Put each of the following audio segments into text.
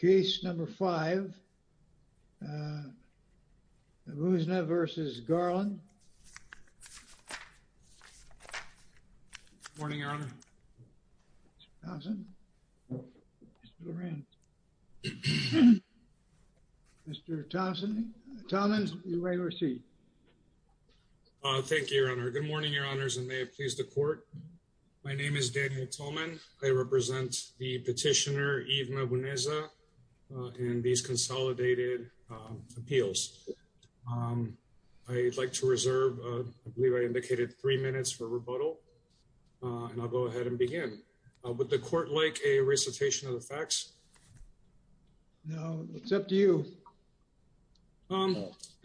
Case number five, Muzna v. Garland. Good morning, Your Honor. Mr. Thompson. Mr. Laurent. Mr. Thompson. Mr. Tolman, you may receive. Thank you, Your Honor. Good morning, Your Honors, and may it please the Court. My name is Daniel Tolman. I represent the petitioner Yves Mabuneza in these consolidated appeals. I'd like to reserve, I believe I indicated three minutes for rebuttal, and I'll go ahead and begin. Would the Court like a recitation of the facts? No, it's up to you.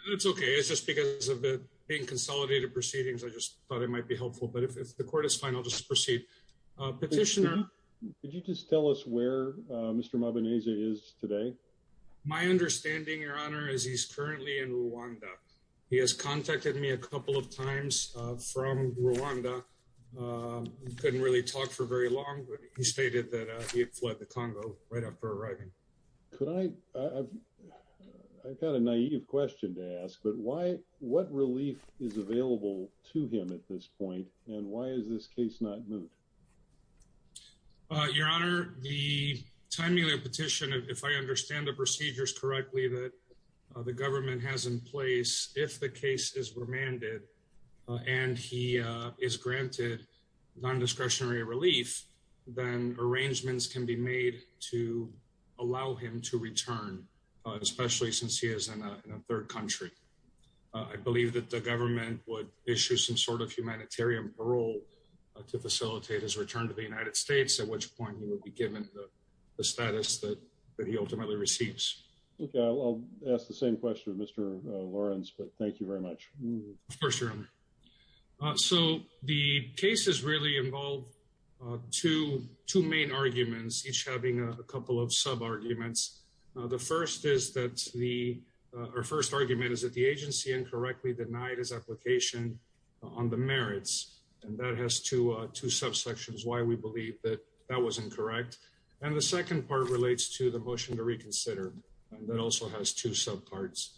It's okay. It's just because of the being consolidated proceedings, I just thought it might be helpful, but if the Court is fine, I'll just proceed. Petitioner, could you just tell us where Mr. Mabuneza is today? My understanding, Your Honor, is he's currently in Rwanda. He has contacted me a couple of times from Rwanda. Couldn't really talk for very long, but he stated that he had fled the Congo right after arriving. Could I, I've got a naive question to ask, but why, what relief is available to him at this point, and why is this case not moved? Your Honor, the timely petition, if I understand the procedures correctly, that the government has in place, if the case is remanded and he is granted non-discretionary relief, then arrangements can be made to allow him to return, especially since he is in a third country. I believe that the government would issue some sort of humanitarian parole to facilitate his return to the United States, at which point he would be given the status that he ultimately receives. Okay, I'll ask the same question of Mr. Lawrence, but thank you very much. Of course, Your Honor. So the cases really involve two main arguments, each having a couple of sub-arguments. The first is that the, our first argument is that the agency incorrectly denied his application on the merits, and that has two subsections, why we believe that that was incorrect. And the second part relates to the motion to reconsider, that also has two sub-parts.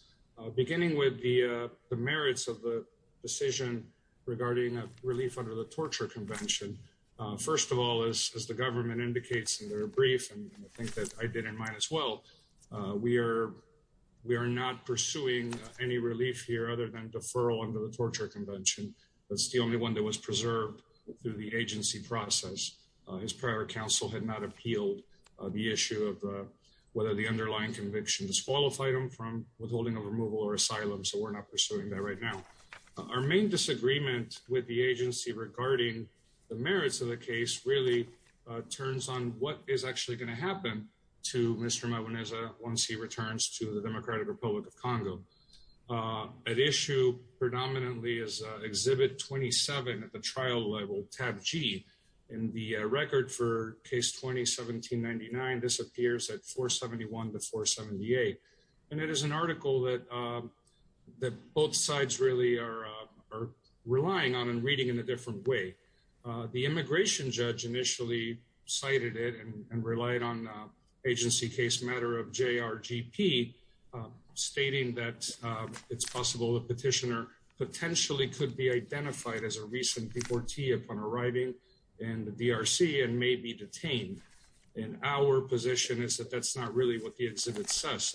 Beginning with the merits of the decision regarding relief under the torture convention, first of all, as the government indicates in their brief, and I think that I did in mine as well, we are not pursuing any relief here other than deferral under the torture convention. That's the only one that was preserved through the agency process. His prior counsel had not appealed the issue of whether the underlying conviction disqualified him from withholding a removal or asylum, so we're not pursuing that right now. Our main disagreement with the agency regarding the merits of the case really turns on what is actually going to happen to Mr. Mwaneza once he returns to the Democratic Republic of Congo. At issue predominantly is Exhibit 27 at the trial level, tab G. In the record for case 20-1799, this appears at 471 to 478, and it is an article that that both sides really are relying on and reading in a different way. The immigration judge initially cited it and relied on agency case matter of JRGP, stating that it's possible the petitioner potentially could be identified as a recent deportee upon arriving in the DRC and may be detained. In our position is that that's not really what the exhibit says.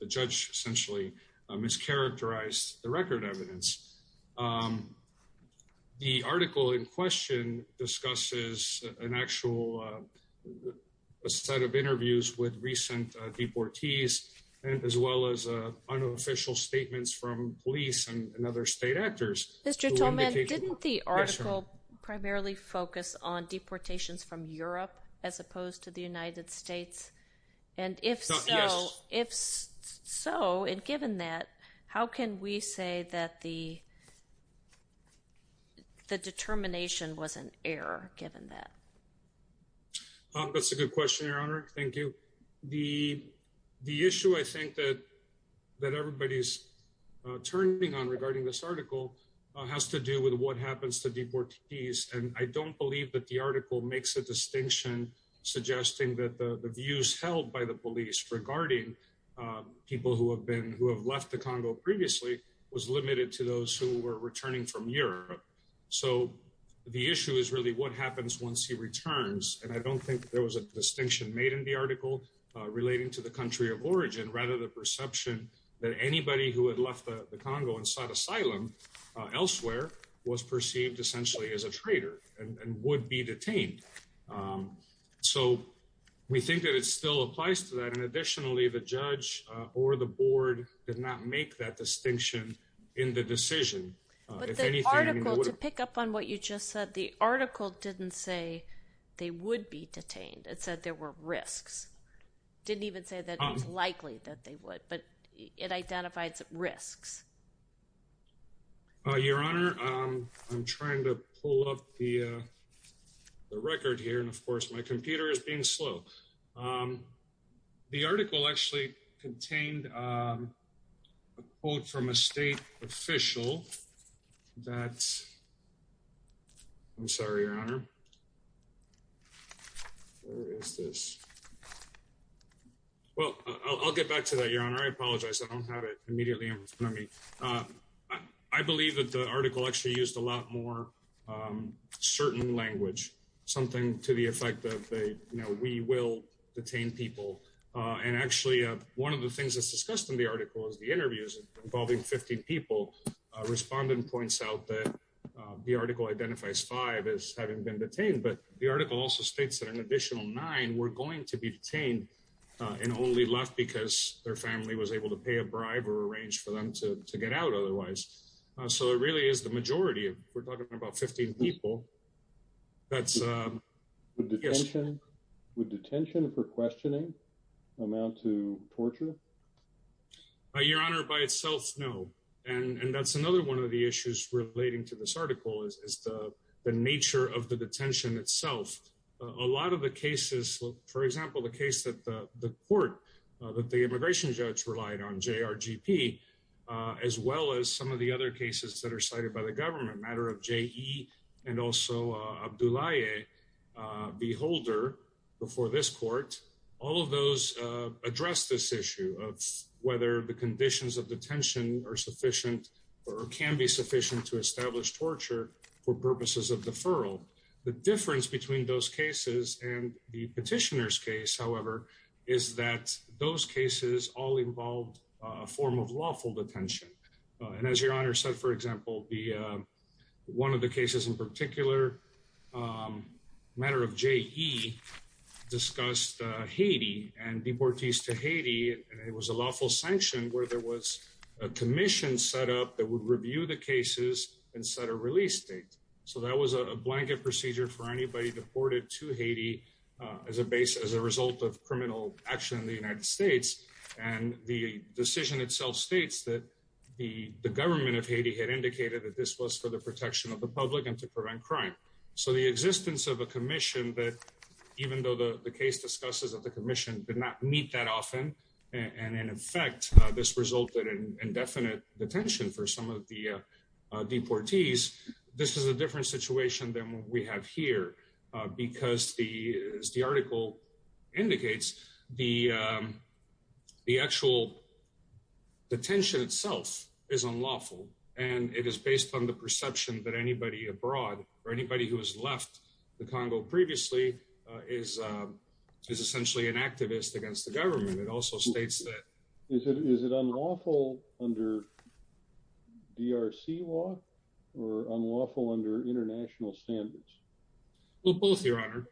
The judge essentially mischaracterized the record evidence. The article in question discusses an actual set of interviews with recent deportees, as well as unofficial statements from police and other state actors. Mr. Toman, didn't the article primarily focus on deportations from Europe as opposed to the United States? And if so, if so, and given that, how can we say that the the determination was an error given that? That's a good question, Your Honor. Thank you. The issue I think that everybody's turning on regarding this article has to do with what happens to deportees. And I don't believe that the article makes a distinction suggesting that the views held by the police regarding people who have left the Congo previously was limited to those who were returning from Europe. So the issue is really what happens once he returns. And I don't think there was a distinction made in the article relating to the country of origin, rather the perception that anybody who had left the Congo and sought asylum elsewhere was perceived essentially as a traitor and would be detained. So we think that it still applies to that. And additionally, the judge or the board did not make that distinction in the decision. But the article, to pick up on what you just said, the article didn't say they would be detained. It said there were risks. Didn't even say that it's likely that they would, but it identifies risks. Your Honor, I'm trying to pull up the record here. And of course, my computer is being slow. The article actually contained a quote from a state official that I'm sorry, Your Honor. Where is this? Well, I'll get back to that, Your Honor. I apologize. I don't have it immediately in front of me. I believe that the article actually used a lot more certain language, something to the effect that we will detain people. And actually, one of the things that's discussed in the article is the been detained. But the article also states that an additional nine were going to be detained and only left because their family was able to pay a bribe or arrange for them to get out otherwise. So it really is the majority. We're talking about 15 people. That's... Would detention for questioning amount to torture? Your Honor, by itself, no. And that's another one of the issues relating to this article is the nature of the detention itself. A lot of the cases, for example, the case that the court, that the immigration judge relied on, JRGP, as well as some of the other cases that are cited by the government, matter of JE and also Abdulaye Beholder before this court, all of those address this issue of whether the conditions of detention are sufficient or can be sufficient to establish torture for purposes of deferral. The difference between those cases and the petitioner's case, however, is that those cases all involved a form of lawful detention. And as Your Honor said, for example, one of the cases in particular, matter of JE, discussed Haiti and deportees to Haiti. And it was a lawful sanction where there was a commission set up that would review the cases and set a release date. So that was a blanket procedure for anybody deported to Haiti as a result of criminal action in the United States. And the decision itself states that the government of Haiti had indicated that this was for the protection of the public and to prevent crime. So the existence of a commission that, even though the case discusses that the commission did meet that often, and in effect, this resulted in indefinite detention for some of the deportees, this is a different situation than what we have here. Because as the article indicates, the actual detention itself is unlawful. And it is based on the perception that anybody abroad or anybody who has left the Congo previously is essentially an activist, it also states that... Is it unlawful under DRC law or unlawful under international standards? Well, both, Your Honor.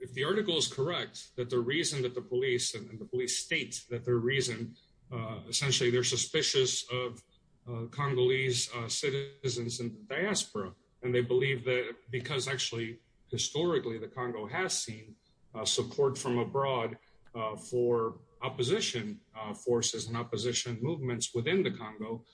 If the article is correct, that the reason that the police and the police state that their reason, essentially, they're suspicious of Congolese citizens and diaspora, and they believe that because actually, historically, the Congo has seen support from abroad for opposition forces and opposition movements within the Congo,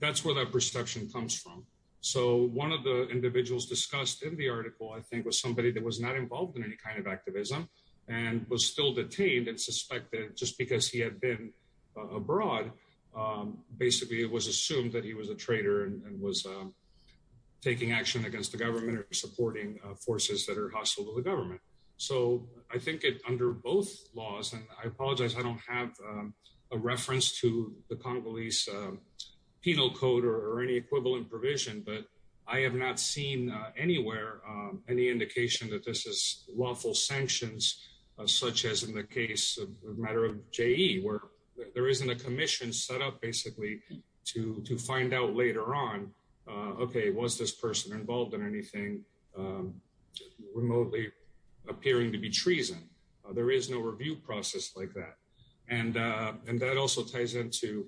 that's where that perception comes from. So one of the individuals discussed in the article, I think, was somebody that was not involved in any kind of activism, and was still detained and suspected just because he had been abroad. Basically, it was assumed that he was a traitor and was taking action against the government or supporting forces that are hostile to the government. So I think it under both laws, and I apologize, I don't have a reference to the Congolese penal code or any equivalent provision, but I have not seen anywhere, any indication that this is lawful sanctions, such as in the case of matter of JE, where there isn't a commission set up, basically, to find out later on, okay, was this person involved in anything remotely appearing to be treason? There is no review process like that. And that also ties into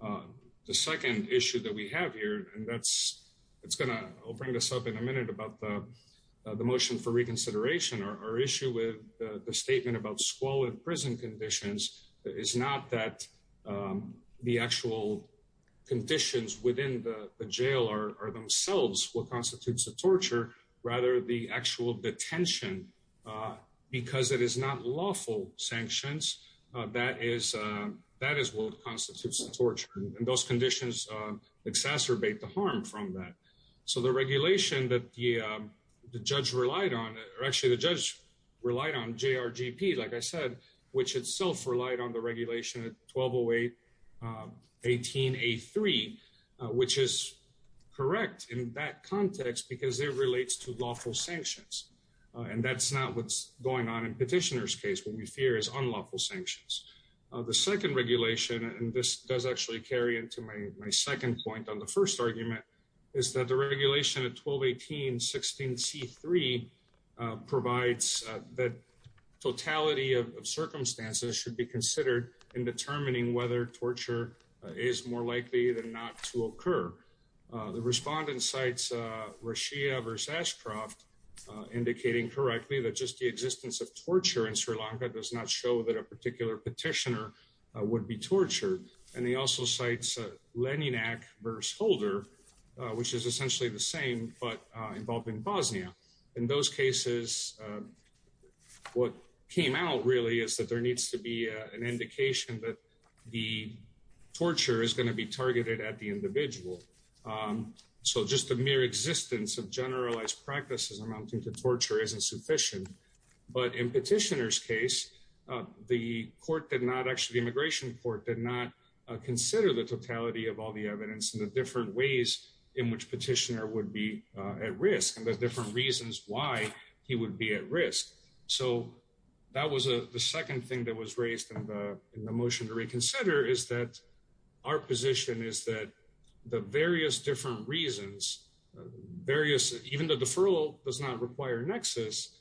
the second issue that we have here. And that's, it's gonna bring this up in a minute about the motion for reconsideration, our issue with the statement about squalor in prison conditions, is not that the actual conditions within the jail are themselves what constitutes a torture, rather the actual detention, because it is not lawful sanctions, that is, that is what constitutes torture. And those conditions exacerbate the harm from that. So the regulation that the judge relied on, or actually, the judge relied on JRGP, like I said, which itself relied on the regulation at 1208.18.A3, which is correct in that context, because it relates to lawful sanctions. And that's not what's going on in petitioner's case, what we fear is unlawful sanctions. The second regulation, and this does actually carry into my second point on the first argument, is that the regulation at 1218.16.C3 provides that totality of circumstances should be considered in determining whether torture is more likely than not to occur. The respondent cites Rashia v. Ashcroft, indicating correctly that just the existence of torture in Sri Lanka does not show that a particular petitioner would be tortured. And he also cites Leninac v. Holder, which is essentially the same but involving Bosnia. In those cases, what came out really is that there needs to be an indication that the torture is going to be targeted at the individual. So just the mere existence of generalized practices amounting to torture isn't sufficient. But in petitioner's case, the court did not actually, the immigration and the different ways in which petitioner would be at risk and the different reasons why he would be at risk. So that was the second thing that was raised in the motion to reconsider is that our position is that the various different reasons, various, even the deferral does not require nexus,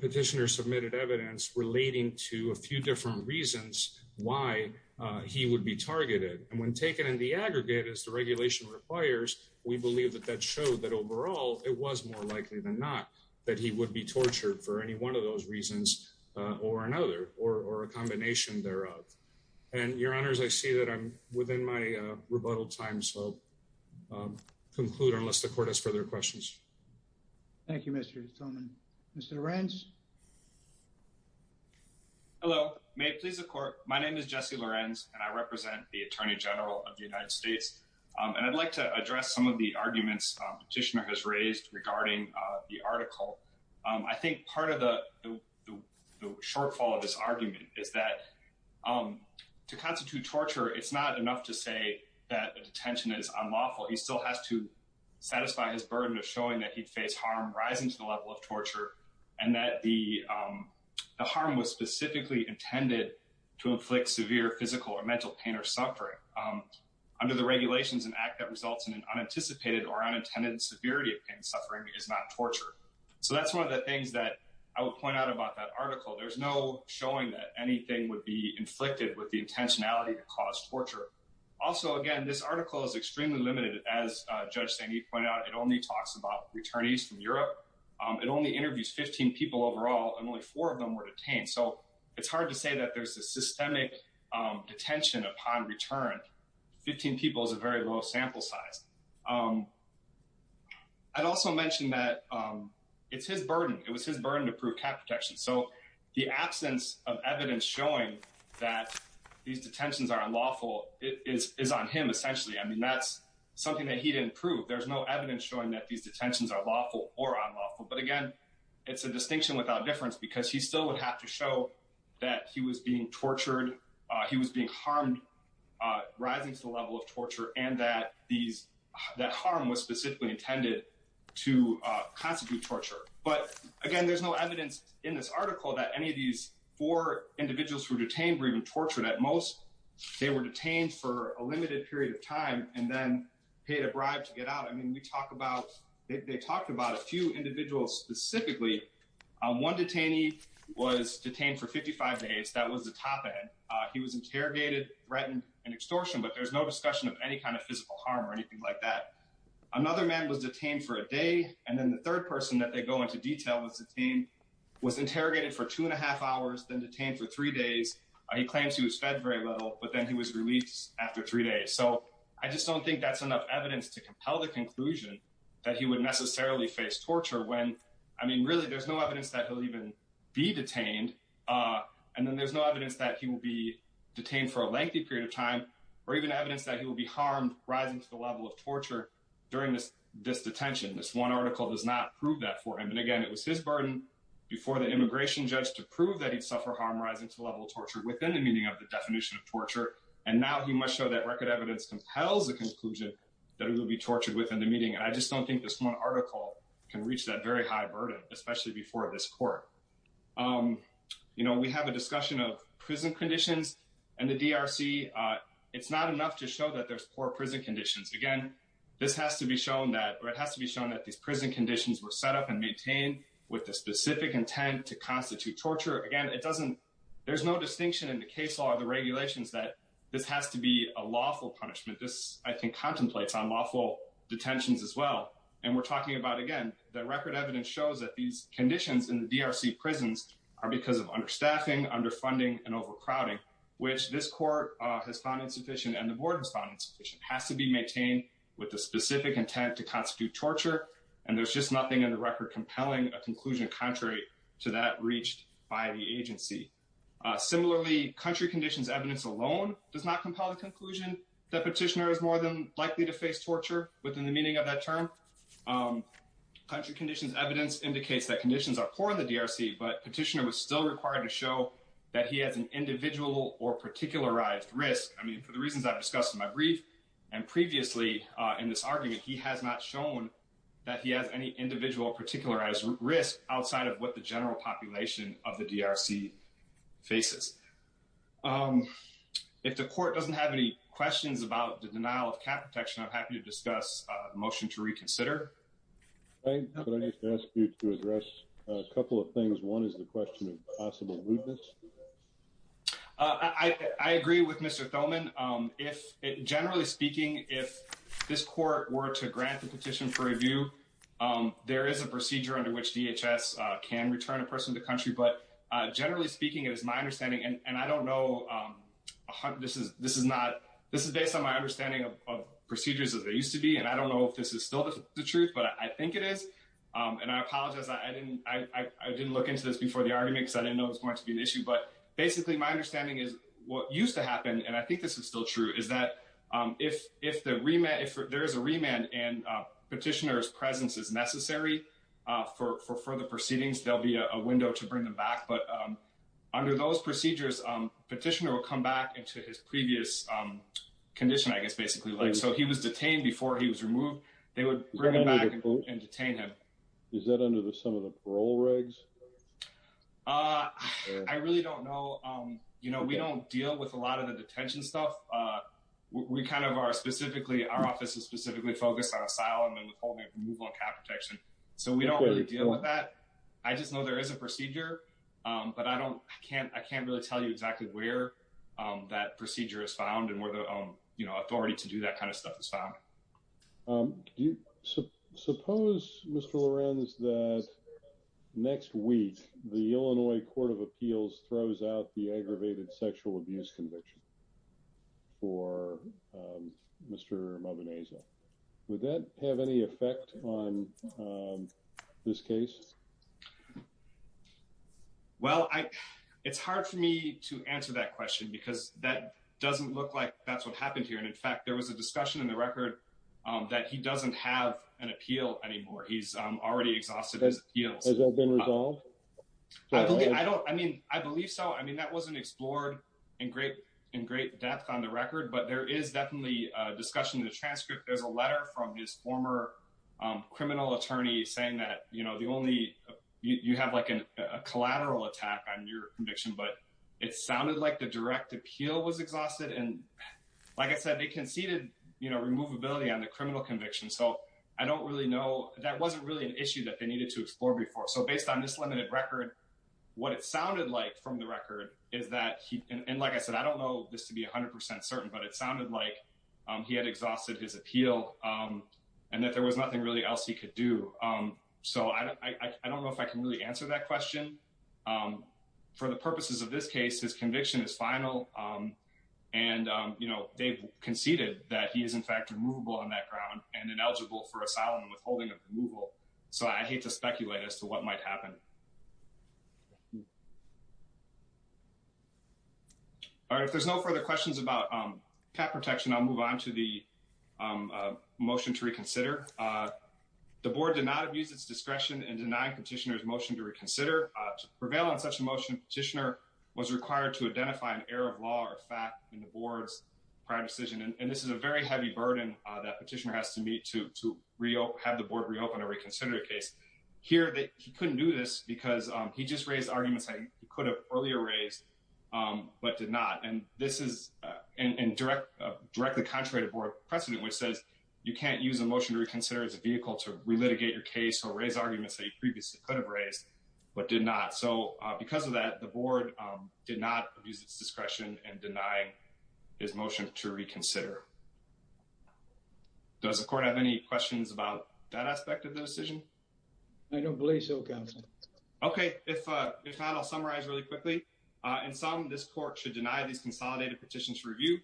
petitioner submitted evidence relating to a few different reasons why he would be targeted. And when taken in the aggregate as the regulation requires, we believe that that showed that overall, it was more likely than not, that he would be tortured for any one of those reasons, or another or a combination thereof. And your honors, I see that I'm within my rebuttal time. So conclude unless the court has further questions. Thank you, Mr. Tillman. Mr. Lorenz? Hello, may it please the court. My name is Jesse Lorenz, and I represent the Attorney General of the United States. And I'd like to address some of the arguments petitioner has raised regarding the article. I think part of the shortfall of this argument is that to constitute torture, it's not enough to say that detention is unlawful, he still has to and that the harm was specifically intended to inflict severe physical or mental pain or suffering under the regulations and act that results in an unanticipated or unintended severity of pain suffering is not torture. So that's one of the things that I will point out about that article, there's no showing that anything would be inflicted with the intentionality to cause torture. Also, again, this article is extremely limited. As Judge Saini pointed out, it only talks about returnees from Europe, it only interviews 15 people overall, and only four of them were detained. So it's hard to say that there's a systemic detention upon return. 15 people is a very low sample size. I'd also mentioned that it's his burden, it was his burden to prove cat protection. So the absence of evidence showing that these detentions are unlawful is on him essentially. I mean, that's something that he didn't prove. There's no evidence that these detentions are lawful or unlawful. But again, it's a distinction without difference because he still would have to show that he was being tortured, he was being harmed, rising to the level of torture, and that harm was specifically intended to constitute torture. But again, there's no evidence in this article that any of these four individuals who were detained were even tortured at most. They were detained for a limited period of time and then they talked about a few individuals specifically. One detainee was detained for 55 days, that was the top end. He was interrogated, written, and extortioned, but there's no discussion of any kind of physical harm or anything like that. Another man was detained for a day, and then the third person that they go into detail was detained, was interrogated for two and a half hours, then detained for three days. He claims he was fed very little, but then he was released after three days. I just don't think that's enough evidence to compel the conclusion that he would necessarily face torture. Really, there's no evidence that he'll even be detained, and then there's no evidence that he will be detained for a lengthy period of time or even evidence that he will be harmed, rising to the level of torture during this detention. This one article does not prove that for him. Again, it was his burden before the immigration judge to prove that he'd suffer harm rising to the level of torture within the meaning of the definition of torture, and now he must show record evidence compels the conclusion that he will be tortured within the meeting. I just don't think this one article can reach that very high burden, especially before this court. We have a discussion of prison conditions and the DRC. It's not enough to show that there's poor prison conditions. Again, this has to be shown that these prison conditions were set up and maintained with the specific intent to constitute torture. Again, there's no distinction in the case law or the regulations that this has to be a lawful punishment. This, I think, contemplates unlawful detentions as well. We're talking about, again, that record evidence shows that these conditions in the DRC prisons are because of understaffing, underfunding, and overcrowding, which this court has found insufficient and the board has found insufficient. It has to be maintained with the specific intent to constitute torture, and there's just nothing in the record compelling a conclusion contrary to that reached by the agency. Similarly, country conditions evidence alone does not compel the conclusion that petitioner is more than likely to face torture within the meaning of that term. Country conditions evidence indicates that conditions are poor in the DRC, but petitioner was still required to show that he has an individual or particularized risk. I mean, for the reasons I've discussed in my brief and previously in this argument, he has not shown that he has any individual or particularized risk outside of what the general population of the DRC faces. If the court doesn't have any questions about the denial of cap protection, I'm happy to discuss a motion to reconsider. I just ask you to address a couple of things. One is the question of possible rudeness. I agree with Mr. Thoman. Generally speaking, if this court were to grant the petition for review, there is a procedure under which DHS can return a person to the country, but generally speaking, it is my understanding, and I don't know, this is based on my understanding of procedures as they used to be, and I don't know if this is still the truth, but I think it is, and I apologize. I didn't look into this before the argument because I didn't know it was going to be an issue, but basically my understanding is what used to happen, and I think this is still true, is that if there is a remand and petitioner's presence is necessary for further proceedings, there will be a window to bring them back, but under those procedures, petitioner will come back into his previous condition, I guess, basically. So he was detained before he was removed. They would bring him back and detain him. Is that under some of the parole regs? I really don't know. You know, we don't deal with a lot of the detention stuff. We kind of are specifically, our office is specifically focused on asylum and withholding and removal of cap protection, so we don't really deal with that. I just know there is a procedure, but I don't, I can't really tell you exactly where that procedure is found and where the authority to do that kind of stuff is found. Do you suppose, Mr. Lorenz, that next week the Illinois Court of Appeals throws out the aggravated sexual abuse conviction for Mr. Mabeneza? Would that have any effect on this case? Well, it's hard for me to answer that question because that doesn't look like that's what happened here. In fact, there was a discussion in the record that he doesn't have an appeal anymore. He's already exhausted his appeals. Has that been resolved? I don't, I mean, I believe so. I mean, that wasn't explored in great depth on the record, but there is definitely a discussion in the transcript. There's a letter from his former criminal attorney saying that, you know, the only, you have like a collateral attack on your conviction, but it sounded like the direct appeal was exhausted. And like I said, they conceded, you know, removability on the criminal conviction. So I don't really know, that wasn't really an issue that they needed to explore before. So based on this limited record, what it sounded like from the record is that he, and like I said, I don't know this to be a hundred percent certain, but it sounded like he had exhausted his appeal and that there was nothing really else he could do. So I don't know if I can really answer that question. For the purposes of this case, his conviction is final. And, you know, they've conceded that he is in fact removable on that ground and ineligible for asylum and withholding of removal. So I hate to speculate as to what might happen. All right. If there's no further questions about cap protection, I'll move on to the motion to reconsider. The board did not abuse its discretion in denying petitioner's motion to reconsider. To prevail on such a motion, petitioner was required to identify an error of law or fact in the board's prior decision. And this is a very heavy burden that petitioner has to meet to have the board reopen a reconsidered case. Here, he couldn't do this because he just raised arguments that he could have earlier raised, but did not. And this is, and directly contrary to board precedent, which says you can't use a motion to reconsider as a vehicle to re-litigate your case or raise arguments that you previously could have raised, but did not. So because of that, the board did not abuse its discretion in denying his motion to reconsider. Does the court have any questions about that aspect of the decision? I don't believe so, counsel. Okay. If not, I'll summarize really quickly. In sum, this court should deny these consolidated petitions review.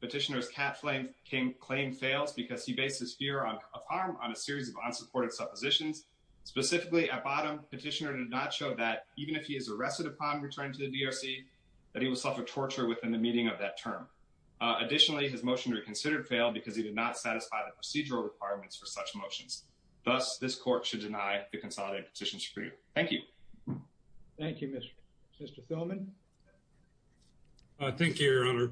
Petitioner's cap claim fails because he bases fear of harm on a series of unsupported suppositions. Specifically at bottom, petitioner did not show that even if he is arrested upon returning to the DRC, that he will suffer torture within the meeting of that term. Additionally, his motion to reconsider failed because he did not satisfy the procedural requirements for such motions. Thus, this court should deny the consolidated petition screen. Thank you. Thank you, Mr. Philman. I think your honor,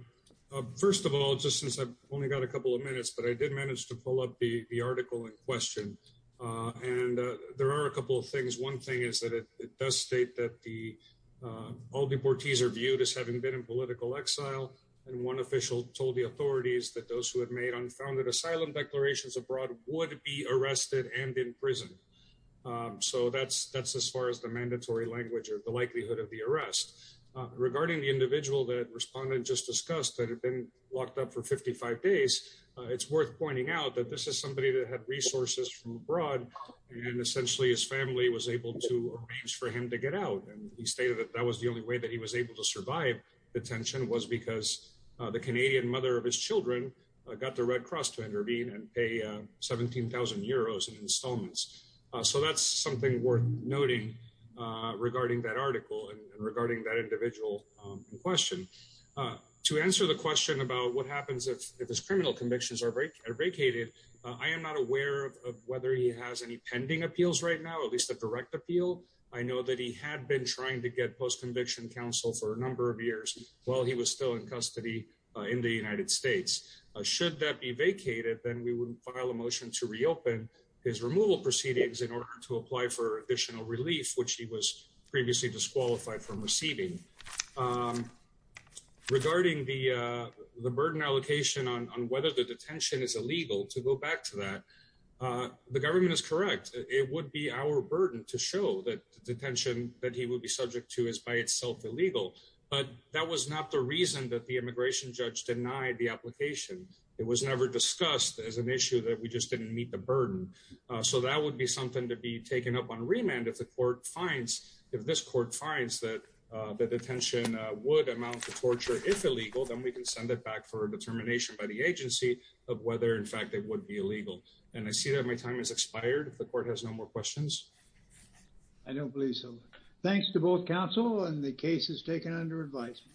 first of all, just since I've only got a couple of minutes, but I did manage to pull up the article in question. And there are a couple of things. One thing is that it does state that the, um, all deportees are viewed as having been in political exile. And one official told the authorities that those who had made unfounded asylum declarations abroad would be arrested and imprisoned. Um, so that's, that's as far as the mandatory language or the likelihood of the arrest, uh, regarding the individual that respondent just discussed that had been locked up for 55 days. Uh, it's worth pointing out that this is somebody that had resources from abroad and essentially his family was able to arrange for him to get out. And he stated that that was the only way that he was able to survive the tension was because, uh, the Canadian mother of his children, uh, got the red cross to intervene and pay, uh, 17,000 euros in installments. Uh, so that's something worth noting, uh, regarding that article and regarding that individual, um, in question, uh, to answer the question about what happens if, if his criminal convictions are break or vacated, uh, I am not aware of, of whether he has any pending appeals right now, at least the direct appeal. I know that he had been trying to get post-conviction counsel for a number of years while he was still in custody, uh, in the United States, uh, should that be vacated, then we wouldn't file a motion to reopen his removal proceedings in order to apply for additional relief, which he was previously disqualified from receiving, um, regarding the, uh, the burden allocation on, on whether the detention is illegal to go back to that. Uh, the government is correct. It would be our burden to show that detention that he would be subject to is by itself illegal, but that was not the reason that the immigration judge denied the application. It was never discussed as an issue that we just didn't meet the burden. Uh, so that would be something to be taken up on remand. If the court finds, if this court finds that, uh, the detention would amount to torture, if illegal, then we can send it back for a determination by the agency of whether in fact it would be illegal. And I see that my time has expired. If the court has no more questions. I don't believe so. Thanks to both counsel and the case is taken under advisement.